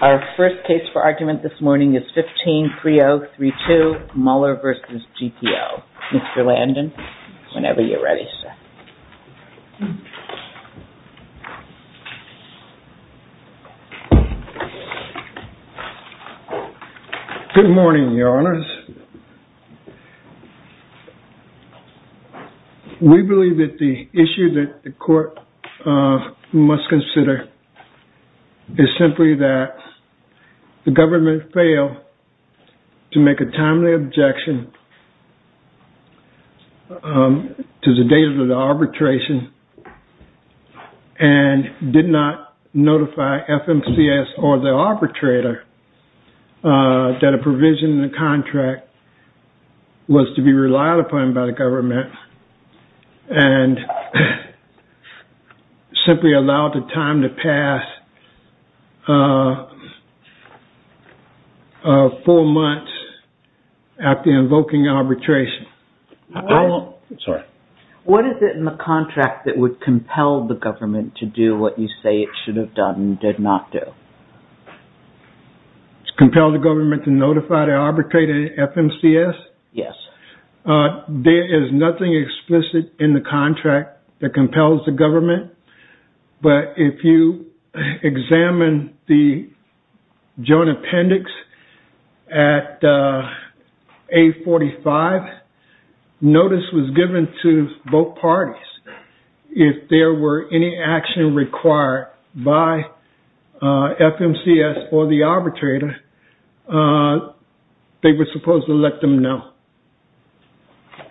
our first case for argument this morning is 153032 Muller v. GPO. Mr. Landon, whenever you're ready, sir. Good morning, Your Honors. We believe that the issue that the court must consider is simply that the government failed to make a timely objection to the date of the arbitration and did not notify FMCS or the arbitrator that a provision in the contract was to be relied upon by the government and simply allowed the time to pass four months after invoking arbitration. What is it in the contract that would compel the government to do what you say it should have done and did not do? Compel the government to notify the arbitrator FMCS? Yes. There is nothing explicit in the contract that compels the government, but if you examine the joint appendix at 845, notice was given to both parties. If there were any action required by FMCS or the arbitrator, they were supposed to let them know.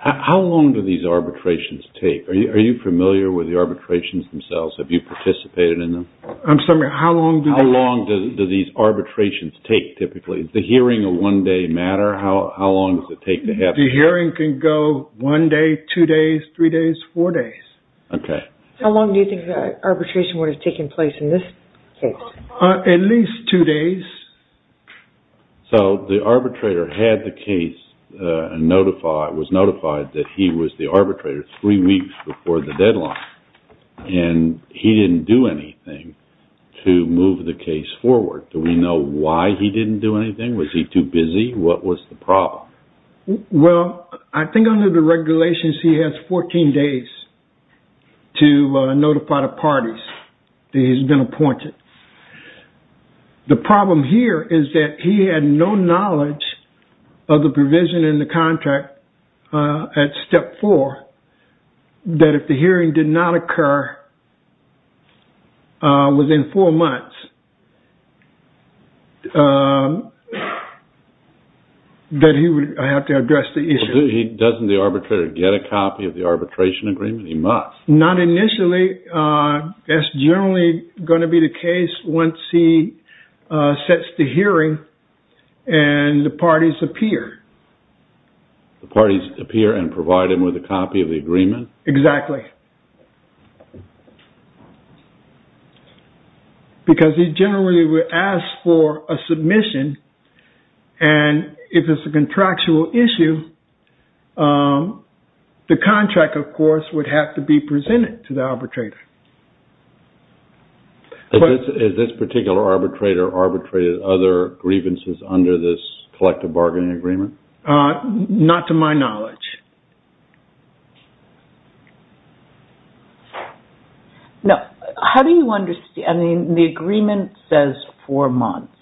How long do these arbitrations take? Are you familiar with the arbitrations themselves? Have you participated in them? I'm sorry. How long do they last? How long do these arbitrations take, typically? Does the hearing a one-day matter? How long does it take to happen? The hearing can go one day, two days, three days, four days. How long do you think the arbitration would have taken place in this case? At least two days. So the arbitrator had the case and was notified that he was the arbitrator three weeks before the deadline and he didn't do anything to move the case forward. Do we know why he didn't do anything? Was he too busy? What was the problem? Well, I think under the regulations, he has 14 days to notify the parties that he's been appointed. The problem here is that he had no knowledge of the provision in the contract at step four, that if the hearing did not occur within four months, that he would have to address the issue. Doesn't the arbitrator get a copy of the arbitration agreement? He must. Not initially. That's generally going to be the case once he sets the hearing and the parties appear. The parties appear and provide him with a copy of the agreement? Exactly. Because he generally would ask for a submission and if it's a contractual issue, the contract, of course, would have to be presented to the arbitrator. Is this particular arbitrator arbitrated other grievances under this collective bargaining agreement? Not to my knowledge. No. How do you understand? I mean, the agreement says four months.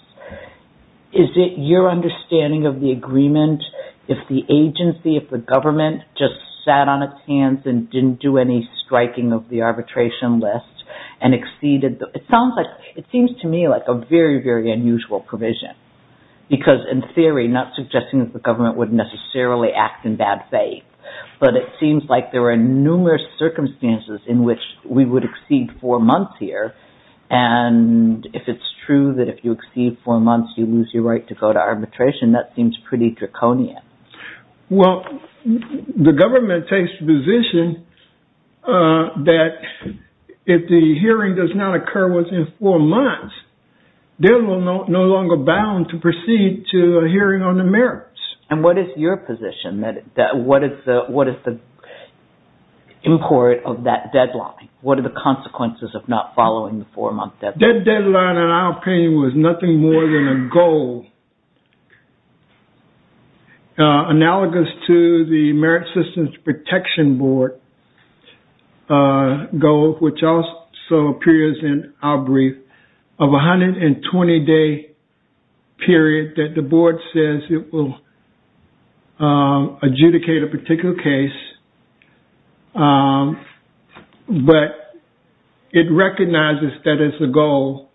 Is it your understanding of the agreement if the agency, if the government, just sat on its hands and didn't do any striking of the arbitration list and exceeded? It sounds like, it seems to me like a very, very unusual provision. Because in theory, not suggesting that the government would necessarily act in bad faith, but it seems like there are numerous circumstances in which we would exceed four months here. And if it's true that if you exceed four months, you lose your right to go to arbitration, that seems pretty draconian. Well, the government takes the position that if the hearing does not occur within four months, they're no longer bound to proceed to a hearing on the merits. And what is your position? What is the import of that deadline? What are the consequences of not following the four-month deadline? That deadline, in our opinion, was nothing more than a goal analogous to the Merit Systems Protection Board goal, which also appears in our brief, of a 120-day period that the board says it will adjudicate a particular case. But it recognizes that as a goal,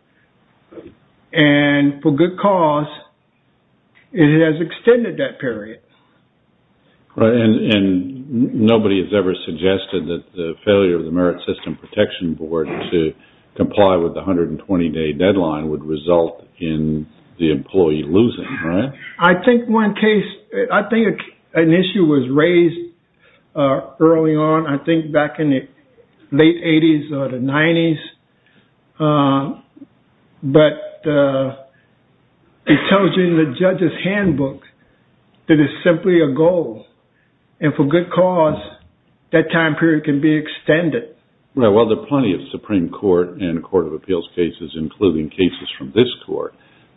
and for good cause, it has extended that period. And nobody has ever suggested that the failure of the Merit Systems Protection Board to comply with the 120-day deadline would result in the employee losing, right? I think one case, I think an issue was raised early on, I think back in the late 80s or the 90s, but it tells you in the judge's handbook that it's simply a goal. And for good cause, that time period can be extended. Well, there are plenty of Supreme Court and Court of Appeals cases, including cases from this court,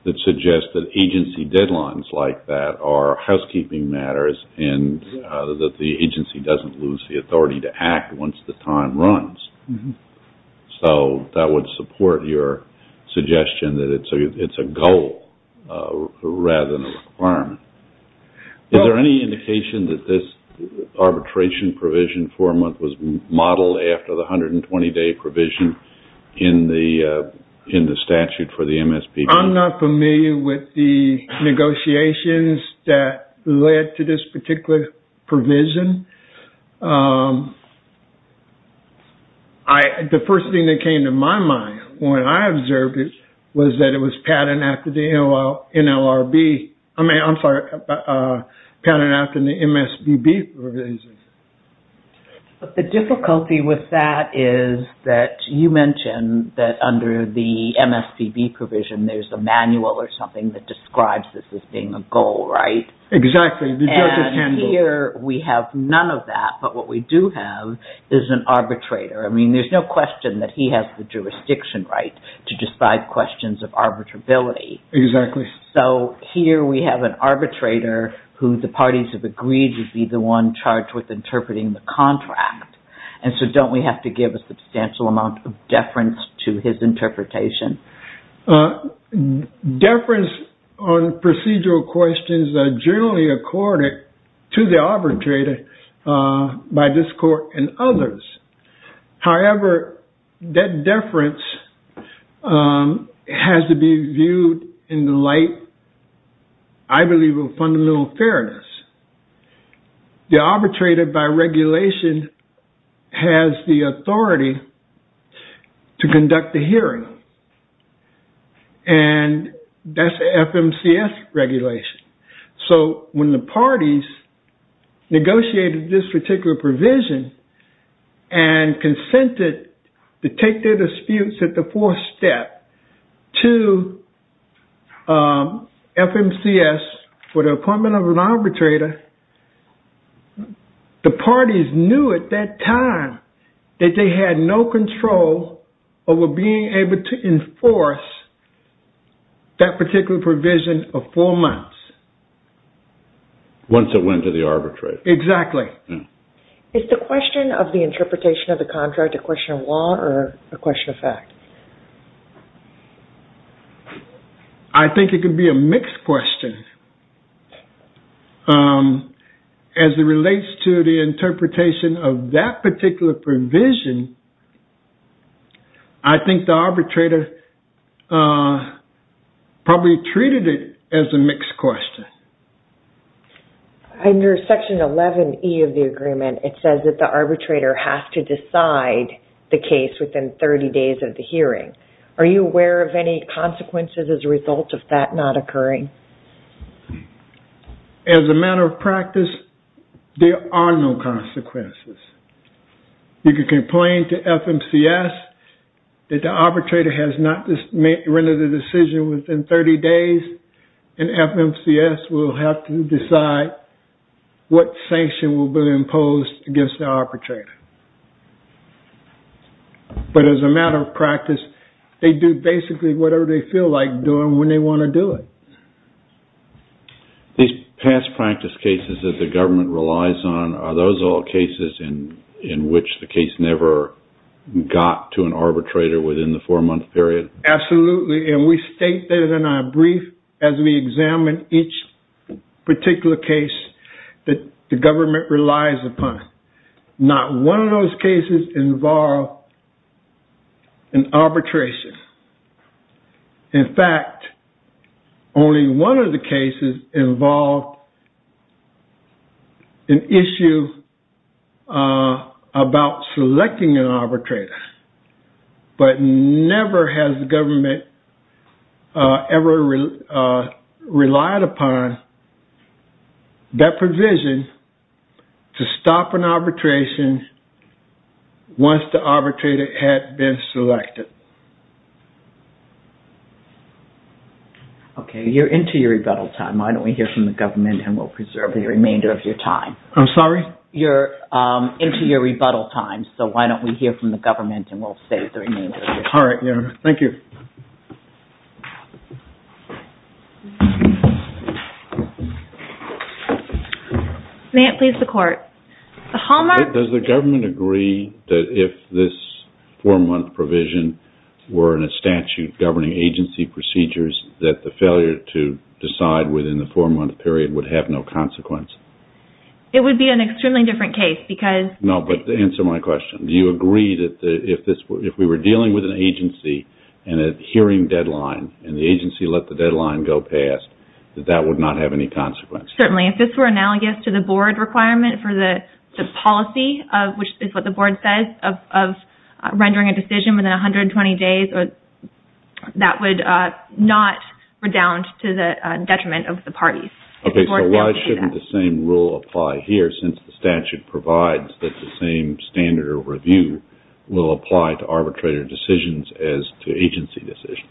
that suggest that agency deadlines like that are housekeeping matters and that the agency doesn't lose the authority to act once the time runs. So that would support your suggestion that it's a goal rather than a requirement. Is there any indication that this arbitration provision for a month was modeled after the 120-day provision in the statute for the MSPB? I'm not familiar with the negotiations that led to this particular provision. The first thing that came to my mind when I observed it was that it was patterned after the NLRB. I mean, I'm sorry, patterned after the MSPB provisions. But the difficulty with that is that you mentioned that under the MSPB provision, there's a manual or something that describes this as being a goal, right? Exactly, the judge's handbook. Here we have none of that, but what we do have is an arbitrator. I mean, there's no question that he has the jurisdiction right to decide questions of arbitrability. Exactly. So here we have an arbitrator who the parties have agreed to be the one charged with interpreting the contract. And so don't we have to give a substantial amount of deference to his interpretation? Deference on procedural questions are generally accorded to the arbitrator by this court and others. However, that deference has to be viewed in the light, I believe, of fundamental fairness. The arbitrator, by regulation, has the authority to conduct the hearing. And that's FMCS regulation. So when the parties negotiated this particular provision and consented to take their disputes at the fourth step to FMCS for the appointment of an arbitrator, the parties knew at that time that they had no control over being able to enforce that particular provision for four months. Once it went to the arbitrator. Exactly. Is the question of the interpretation of the contract a question of law or a question of fact? I think it could be a mixed question. As it relates to the interpretation of that particular provision, I think the arbitrator probably treated it as a mixed question. Under Section 11E of the agreement, it says that the arbitrator has to decide the case within 30 days of the hearing. Are you aware of any consequences as a result of that not occurring? As a matter of practice, there are no consequences. You can complain to FMCS that the arbitrator has not rendered the decision within 30 days, and FMCS will have to decide what sanction will be imposed against the arbitrator. But as a matter of practice, they do basically whatever they feel like doing when they want to do it. These past practice cases that the government relies on, are those all cases in which the case never got to an arbitrator within the four-month period? Absolutely, and we state that in our brief as we examine each particular case that the government relies upon. Not one of those cases involved an arbitration. In fact, only one of the cases involved an issue about selecting an arbitrator. But never has the government ever relied upon that provision to stop an arbitration once the arbitrator had been selected. Okay, you're into your rebuttal time. Why don't we hear from the government and we'll preserve the remainder of your time. I'm sorry? You're into your rebuttal time, so why don't we hear from the government and we'll save the remainder of your time. Alright, thank you. May it please the court. Does the government agree that if this four-month provision were in a statute governing agency procedures, that the failure to decide within the four-month period would have no consequence? It would be an extremely different case because... No, but answer my question. Do you agree that if we were dealing with an agency and a hearing deadline, and the agency let the deadline go past, that that would not have any consequence? Certainly. If this were analogous to the board requirement for the policy, which is what the board says, of rendering a decision within 120 days, that would not redound to the detriment of the parties. Okay, so why shouldn't the same rule apply here since the statute provides that the same standard of review will apply to arbitrator decisions as to agency decisions?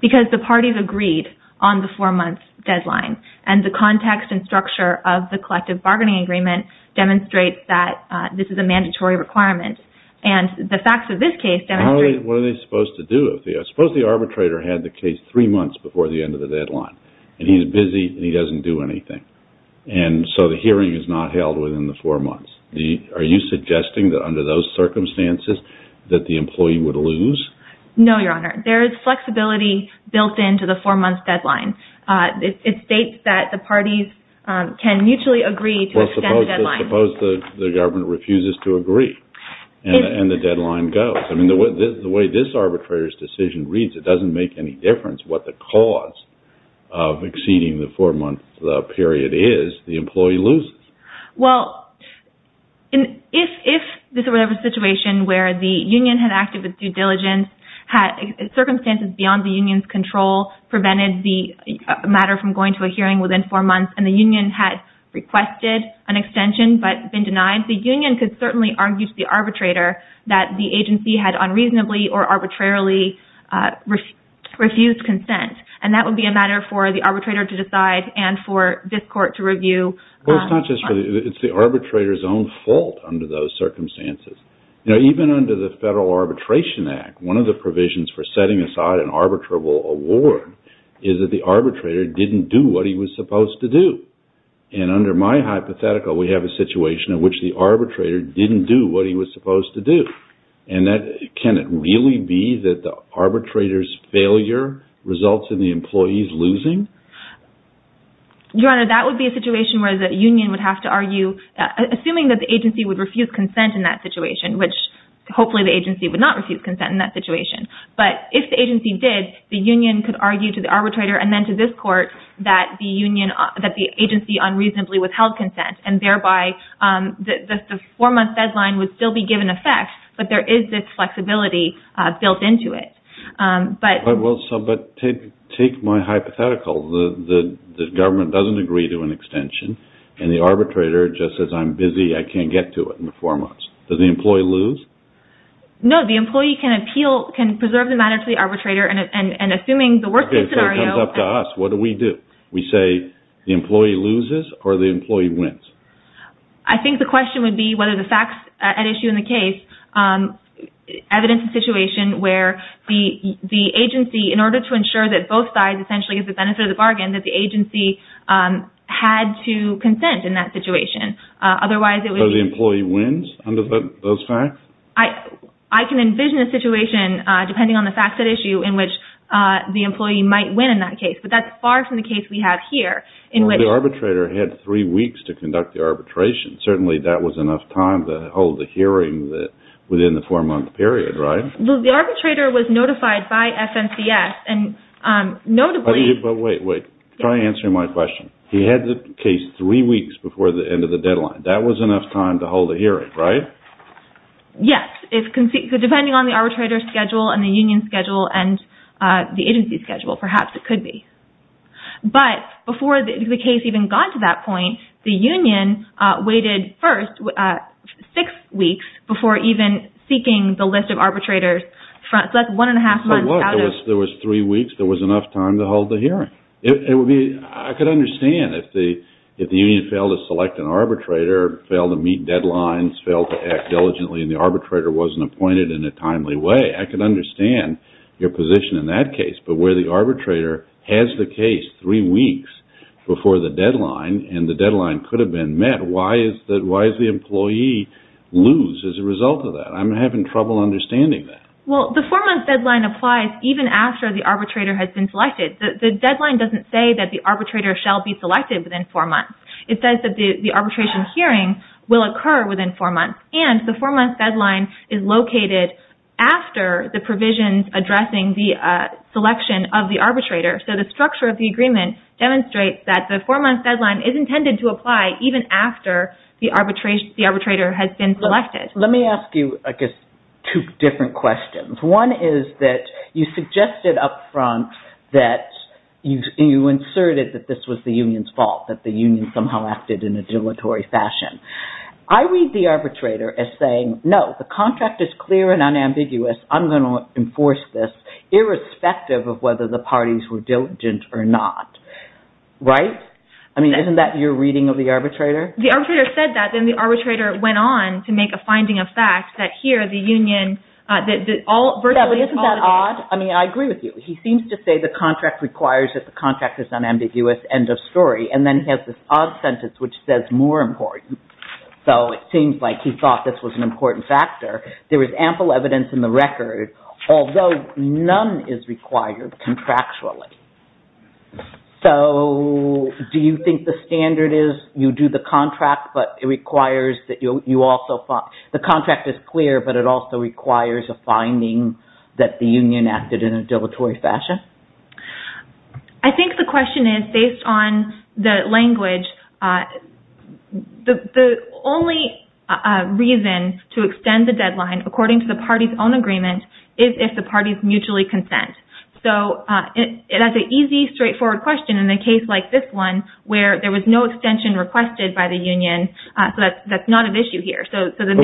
Because the parties agreed on the four-month deadline, and the context and structure of the collective bargaining agreement demonstrates that this is a mandatory requirement, and the facts of this case demonstrate... What are they supposed to do? I suppose the arbitrator had the case three months before the end of the deadline, and he's busy and he doesn't do anything, and so the hearing is not held within the four months. Are you suggesting that under those circumstances that the employee would lose? No, Your Honor. There is flexibility built into the four-month deadline. It states that the parties can mutually agree to extend the deadline. Well, suppose the government refuses to agree, and the deadline goes. I mean, the way this arbitrator's decision reads, it doesn't make any difference what the cause of exceeding the four-month period is. The employee loses. Well, if this were a situation where the union had acted with due diligence, had circumstances beyond the union's control prevented the matter from going to a hearing within four months, and the union had requested an extension but been denied, the union could certainly argue to the arbitrator that the agency had unreasonably or arbitrarily refused consent, and that would be a matter for the arbitrator to decide and for this court to review. Well, it's the arbitrator's own fault under those circumstances. You know, even under the Federal Arbitration Act, one of the provisions for setting aside an arbitrable award is that the arbitrator didn't do what he was supposed to do, and under my hypothetical, we have a situation in which the arbitrator didn't do what he was supposed to do, and can it really be that the arbitrator's failure results in the employees losing? Your Honor, that would be a situation where the union would have to argue, assuming that the agency would refuse consent in that situation, which hopefully the agency would not refuse consent in that situation, but if the agency did, the union could argue to the arbitrator and then to this court that the agency unreasonably withheld consent, and thereby the four-month deadline would still be given effect, but there is this flexibility built into it. But take my hypothetical. The government doesn't agree to an extension, and the arbitrator just says, I'm busy, I can't get to it in the four months. Does the employee lose? No, the employee can appeal, can preserve the matter to the arbitrator, and assuming the worst-case scenario… Okay, so it comes up to us. What do we do? We say, the employee loses or the employee wins? I think the question would be whether the facts at issue in the case evidence a situation where the agency, in order to ensure that both sides essentially get the benefit of the bargain, that the agency had to consent in that situation. Otherwise, it would be… So the employee wins under those facts? I can envision a situation, depending on the facts at issue, in which the employee might win in that case, but that's far from the case we have here. The arbitrator had three weeks to conduct the arbitration. Certainly, that was enough time to hold a hearing within the four-month period, right? The arbitrator was notified by FNCS, and notably… Wait, wait. Try answering my question. He had the case three weeks before the end of the deadline. That was enough time to hold a hearing, right? Yes. Depending on the arbitrator's schedule and the union's schedule and the agency's schedule, perhaps it could be. But before the case even got to that point, the union waited first six weeks before even seeking the list of arbitrators. So that's one and a half months out of… There was three weeks. There was enough time to hold the hearing. I could understand if the union failed to select an arbitrator, failed to meet deadlines, failed to act diligently, and the arbitrator wasn't appointed in a timely way. I could understand your position in that case. But where the arbitrator has the case three weeks before the deadline, and the deadline could have been met, why is the employee lose as a result of that? I'm having trouble understanding that. Well, the four-month deadline applies even after the arbitrator has been selected. The deadline doesn't say that the arbitrator shall be selected within four months. It says that the arbitration hearing will occur within four months, and the four-month deadline is located after the provisions addressing the selection of the arbitrator. So the structure of the agreement demonstrates that the four-month deadline is intended to apply even after the arbitrator has been selected. Let me ask you, I guess, two different questions. One is that you suggested up front that you inserted that this was the union's fault, that the union somehow acted in a dilatory fashion. I read the arbitrator as saying, no, the contract is clear and unambiguous. I'm going to enforce this irrespective of whether the parties were diligent or not. Right? I mean, isn't that your reading of the arbitrator? The arbitrator said that, then the arbitrator went on to make a finding of fact that here, the union – Yeah, but isn't that odd? I mean, I agree with you. He seems to say the contract requires that the contract is unambiguous, end of story, and then he has this odd sentence which says more important. So it seems like he thought this was an important factor. There is ample evidence in the record, although none is required contractually. So do you think the standard is you do the contract, but it requires that you also – the contract is clear, but it also requires a finding that the union acted in a dilatory fashion? I think the question is, based on the language, the only reason to extend the deadline according to the party's own agreement is if the parties mutually consent. So that's an easy, straightforward question. In a case like this one, where there was no extension requested by the union, that's not an issue here. But in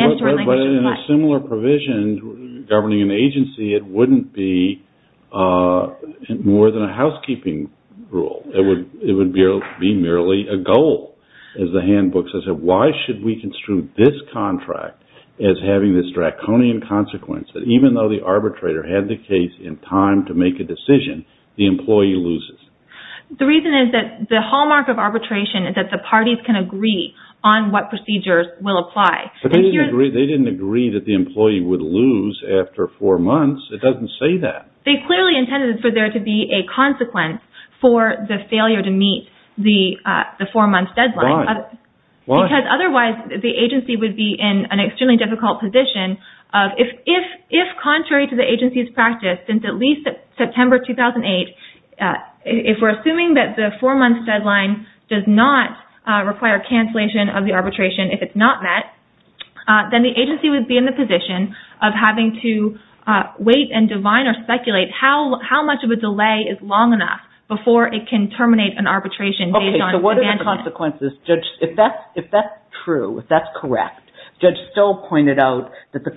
a similar provision governing an agency, it wouldn't be more than a housekeeping rule. It would be merely a goal. As the handbook says, why should we construe this contract as having this draconian consequence that even though the arbitrator had the case in time to make a decision, the employee loses? The reason is that the hallmark of arbitration is that the parties can agree on what procedures will apply. But they didn't agree that the employee would lose after four months. It doesn't say that. They clearly intended for there to be a consequence for the failure to meet the four-month deadline. Why? Because otherwise the agency would be in an extremely difficult position. If contrary to the agency's practice, since at least September 2008, if we're assuming that the four-month deadline does not require cancellation of the arbitration if it's not met, then the agency would be in the position of having to wait and divine or speculate how much of a delay is long enough before it can terminate an arbitration based on abandonment. If that's true, if that's correct, Judge Stoll pointed out that the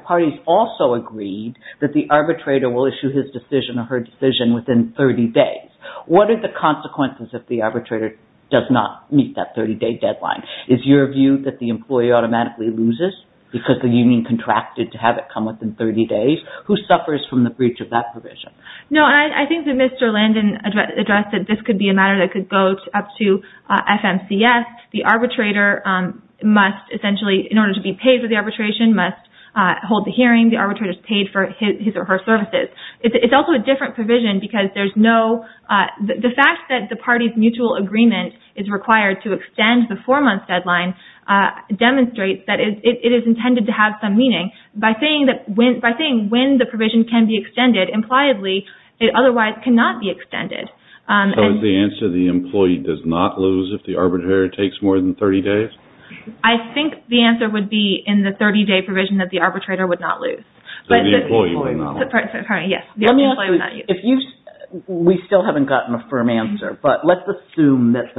parties also agreed that the arbitrator will issue his decision or her decision within 30 days. What are the consequences if the arbitrator does not meet that 30-day deadline? Is your view that the employee automatically loses because the union contracted to have it come within 30 days? Who suffers from the breach of that provision? No, I think that Mr. Landon addressed that this could be a matter that could go up to FMCS. The arbitrator must essentially, in order to be paid for the arbitration, must hold the hearing. The arbitrator is paid for his or her services. It's also a different provision because the fact that the party's mutual agreement is required to extend the four-month deadline demonstrates that it is intended to have some meaning. By saying when the provision can be extended, impliedly, it otherwise cannot be extended. So is the answer the employee does not lose if the arbitrator takes more than 30 days? I think the answer would be in the 30-day provision that the arbitrator would not lose. So the employee would not lose. We still haven't gotten a firm answer, but let's assume that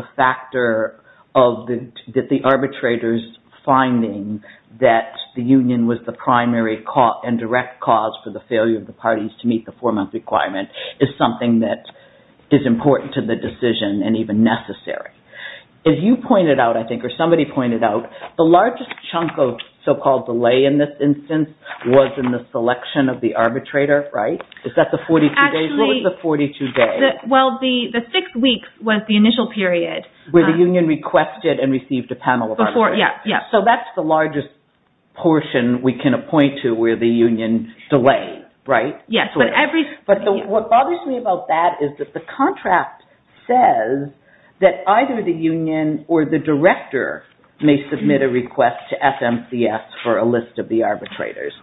the arbitrator's finding that the union was the primary and direct cause for the failure of the parties to meet the four-month requirement is something that is important to the decision and even necessary. As you pointed out, I think, or somebody pointed out, the largest chunk of so-called delay in this instance was in the selection of the arbitrator, right? Is that the 42 days? What was the 42 days? Well, the six weeks was the initial period. Where the union requested and received a panel of arbitrators. So that's the largest portion we can appoint to where the union delayed, right? But what bothers me about that is that the contract says that either the union or the director may submit a request to FMCS for a list of the arbitrators.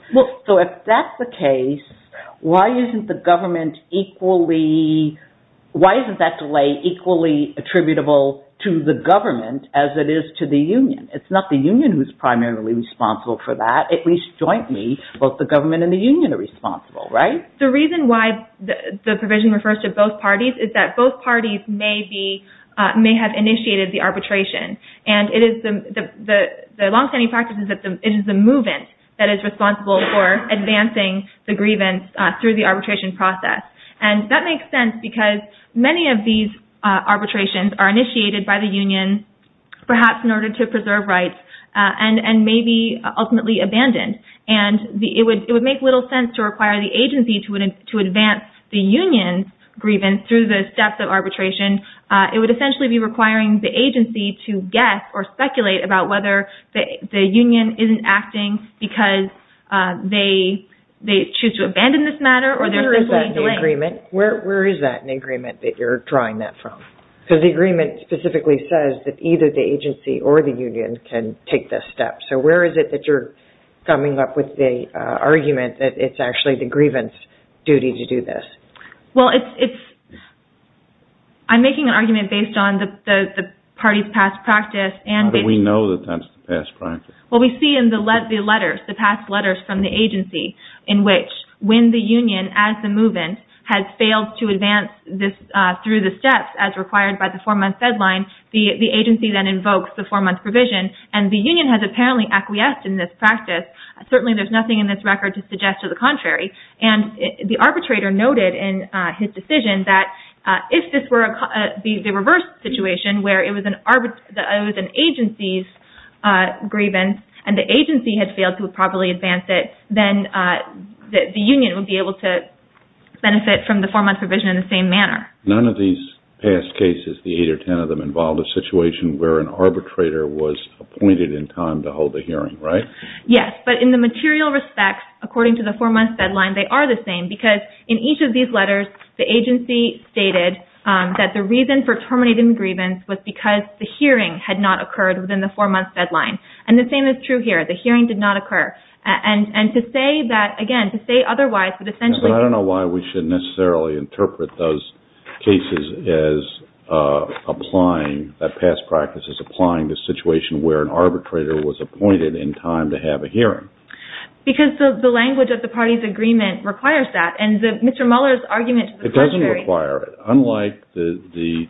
So if that's the case, why isn't that delay equally attributable to the government as it is to the union? It's not the union who's primarily responsible for that. At least jointly, both the government and the union are responsible, right? The reason why the provision refers to both parties is that both parties may have initiated the arbitration. And the long-standing practice is that it is the movement that is responsible for advancing the grievance through the arbitration process. And that makes sense because many of these arbitrations are initiated by the union, perhaps in order to preserve rights, and may be ultimately abandoned. And it would make little sense to require the agency to advance the union's grievance through the steps of arbitration. It would essentially be requiring the agency to guess or speculate about whether the union isn't acting because they choose to abandon this matter or there's a delay. Where is that in the agreement that you're drawing that from? Because the agreement specifically says that either the agency or the union can take this step. So where is it that you're coming up with the argument that it's actually the grievance duty to do this? Well, I'm making an argument based on the party's past practice. How do we know that that's past practice? Well, we see in the past letters from the agency in which when the union, as the movement, has failed to advance through the steps as required by the four-month deadline, the agency then invokes the four-month provision. And the union has apparently acquiesced in this practice. Certainly, there's nothing in this record to suggest to the contrary. And the arbitrator noted in his decision that if this were the reverse situation where it was an agency's grievance and the agency had failed to properly advance it, then the union would be able to benefit from the four-month provision in the same manner. None of these past cases, the eight or ten of them, involved a situation where an arbitrator was appointed in time to hold a hearing, right? Yes, but in the material respect, according to the four-month deadline, they are the same. Because in each of these letters, the agency stated that the reason for terminating the grievance was because the hearing had not occurred within the four-month deadline. And the same is true here. The hearing did not occur. And to say that, again, to say otherwise would essentially… But I don't know why we should necessarily interpret those cases as applying, that past practice as applying the situation where an arbitrator was appointed in time to have a hearing. Because the language of the party's agreement requires that. And Mr. Mueller's argument to the contrary… It doesn't require it. Unlike the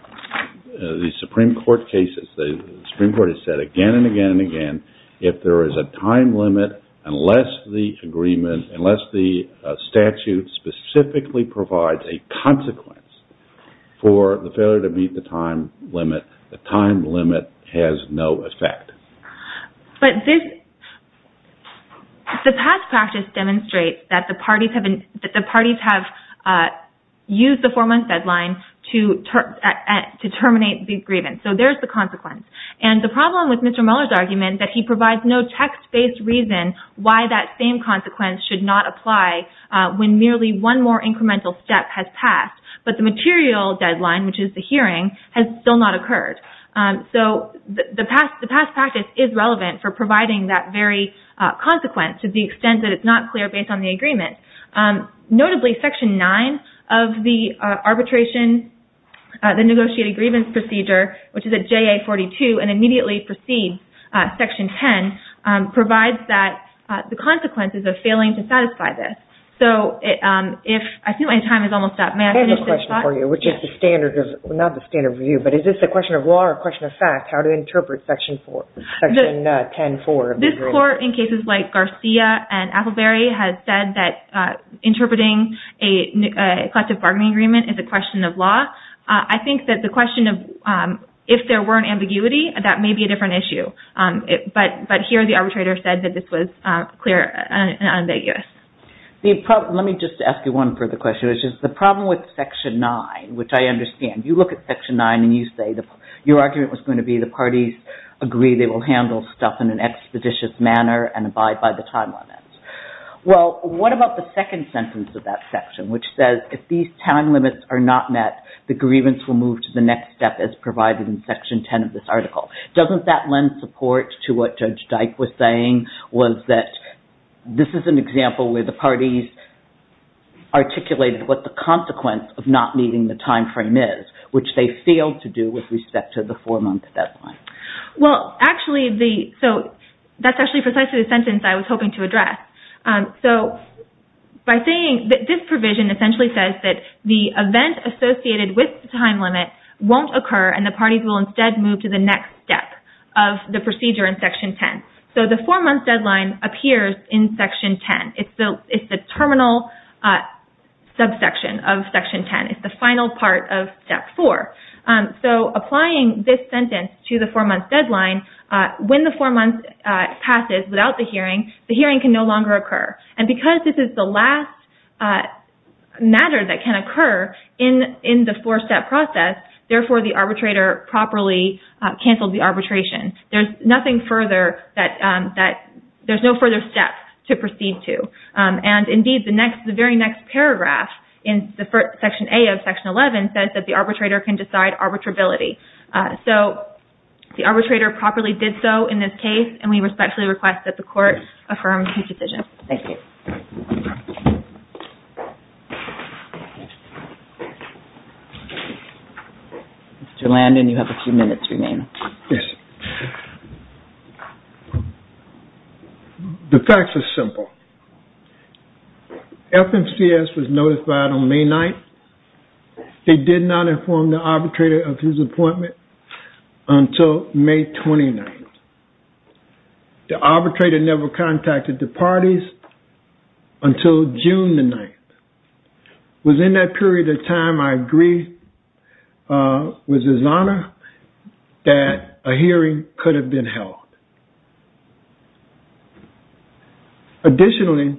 Supreme Court cases, the Supreme Court has said again and again and again, if there is a time limit, unless the agreement, unless the statute specifically provides a consequence for the failure to meet the time limit, the time limit has no effect. But the past practice demonstrates that the parties have used the four-month deadline to terminate the grievance. So there is the consequence. And the problem with Mr. Mueller's argument is that he provides no text-based reason why that same consequence should not apply when merely one more incremental step has passed. But the material deadline, which is the hearing, has still not occurred. So the past practice is relevant for providing that very consequence to the extent that it's not clear based on the agreement. Notably, Section 9 of the arbitration, the negotiated grievance procedure, which is at JA-42 and immediately precedes Section 10, provides that the consequences of failing to satisfy this. So if… I think my time is almost up. May I finish this talk? Not the standard view, but is this a question of law or a question of fact, how to interpret Section 10-4? This Court, in cases like Garcia and Appleberry, has said that interpreting a collective bargaining agreement is a question of law. I think that the question of if there were an ambiguity, that may be a different issue. But here the arbitrator said that this was clear and unambiguous. Let me just ask you one further question, which is the problem with Section 9, which I understand. You look at Section 9 and you say your argument was going to be the parties agree they will handle stuff in an expeditious manner and abide by the time limits. Well, what about the second sentence of that section, which says if these time limits are not met, the grievance will move to the next step as provided in Section 10 of this article? Doesn't that lend support to what Judge Dyke was saying, was that this is an example where the parties articulated what the consequence of not meeting the time frame is, which they failed to do with respect to the four-month deadline? Well, actually, so that's actually precisely the sentence I was hoping to address. This provision essentially says that the event associated with the time limit won't occur and the parties will instead move to the next step of the procedure in Section 10. So the four-month deadline appears in Section 10. It's the terminal subsection of Section 10. It's the final part of Step 4. So applying this sentence to the four-month deadline, when the four-month passes without the hearing, the hearing can no longer occur. And because this is the last matter that can occur in the four-step process, therefore, the arbitrator properly canceled the arbitration. There's nothing further that – there's no further steps to proceed to. And indeed, the very next paragraph in Section A of Section 11 says that the arbitrator can decide arbitrability. So the arbitrator properly did so in this case, and we respectfully request that the Court affirm his decision. Thank you. Mr. Landon, you have a few minutes remaining. Yes. The facts are simple. FMCS was notified on May 9th. They did not inform the arbitrator of his appointment until May 29th. The arbitrator never contacted the parties until June the 9th. Within that period of time, I agree with his honor that a hearing could have been held. Additionally,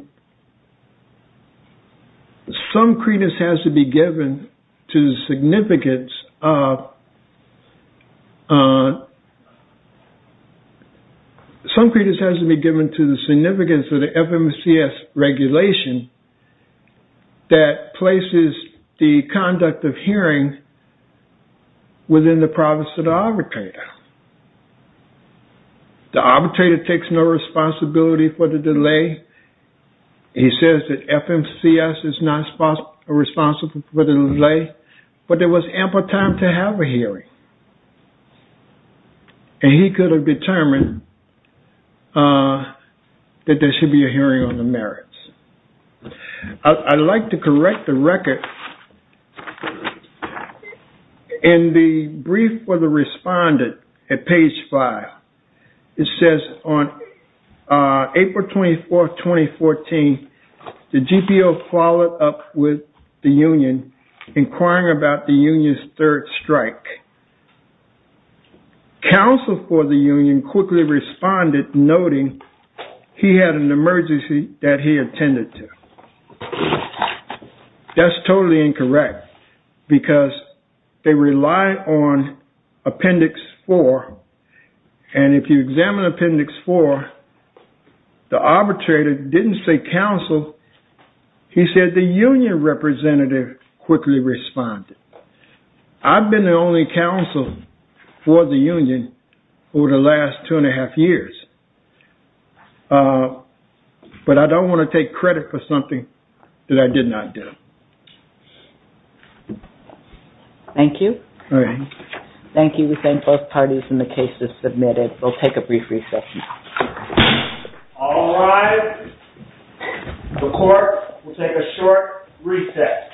some credence has to be given to the significance of – some credence has to be given to the significance of the FMCS regulation. That places the conduct of hearing within the province of the arbitrator. The arbitrator takes no responsibility for the delay. He says that FMCS is not responsible for the delay, but there was ample time to have a hearing. And he could have determined that there should be a hearing on the merits. I'd like to correct the record. In the brief for the respondent at page 5, it says on April 24th, 2014, the GPO followed up with the union inquiring about the union's third strike. Counsel for the union quickly responded, noting he had an emergency that he attended to. That's totally incorrect, because they rely on Appendix 4. And if you examine Appendix 4, the arbitrator didn't say counsel, he said the union representative quickly responded. I've been the only counsel for the union over the last two and a half years. But I don't want to take credit for something that I did not do. Thank you. Thank you. We thank both parties and the case is submitted. We'll take a brief recess. All rise. The court will take a short recess.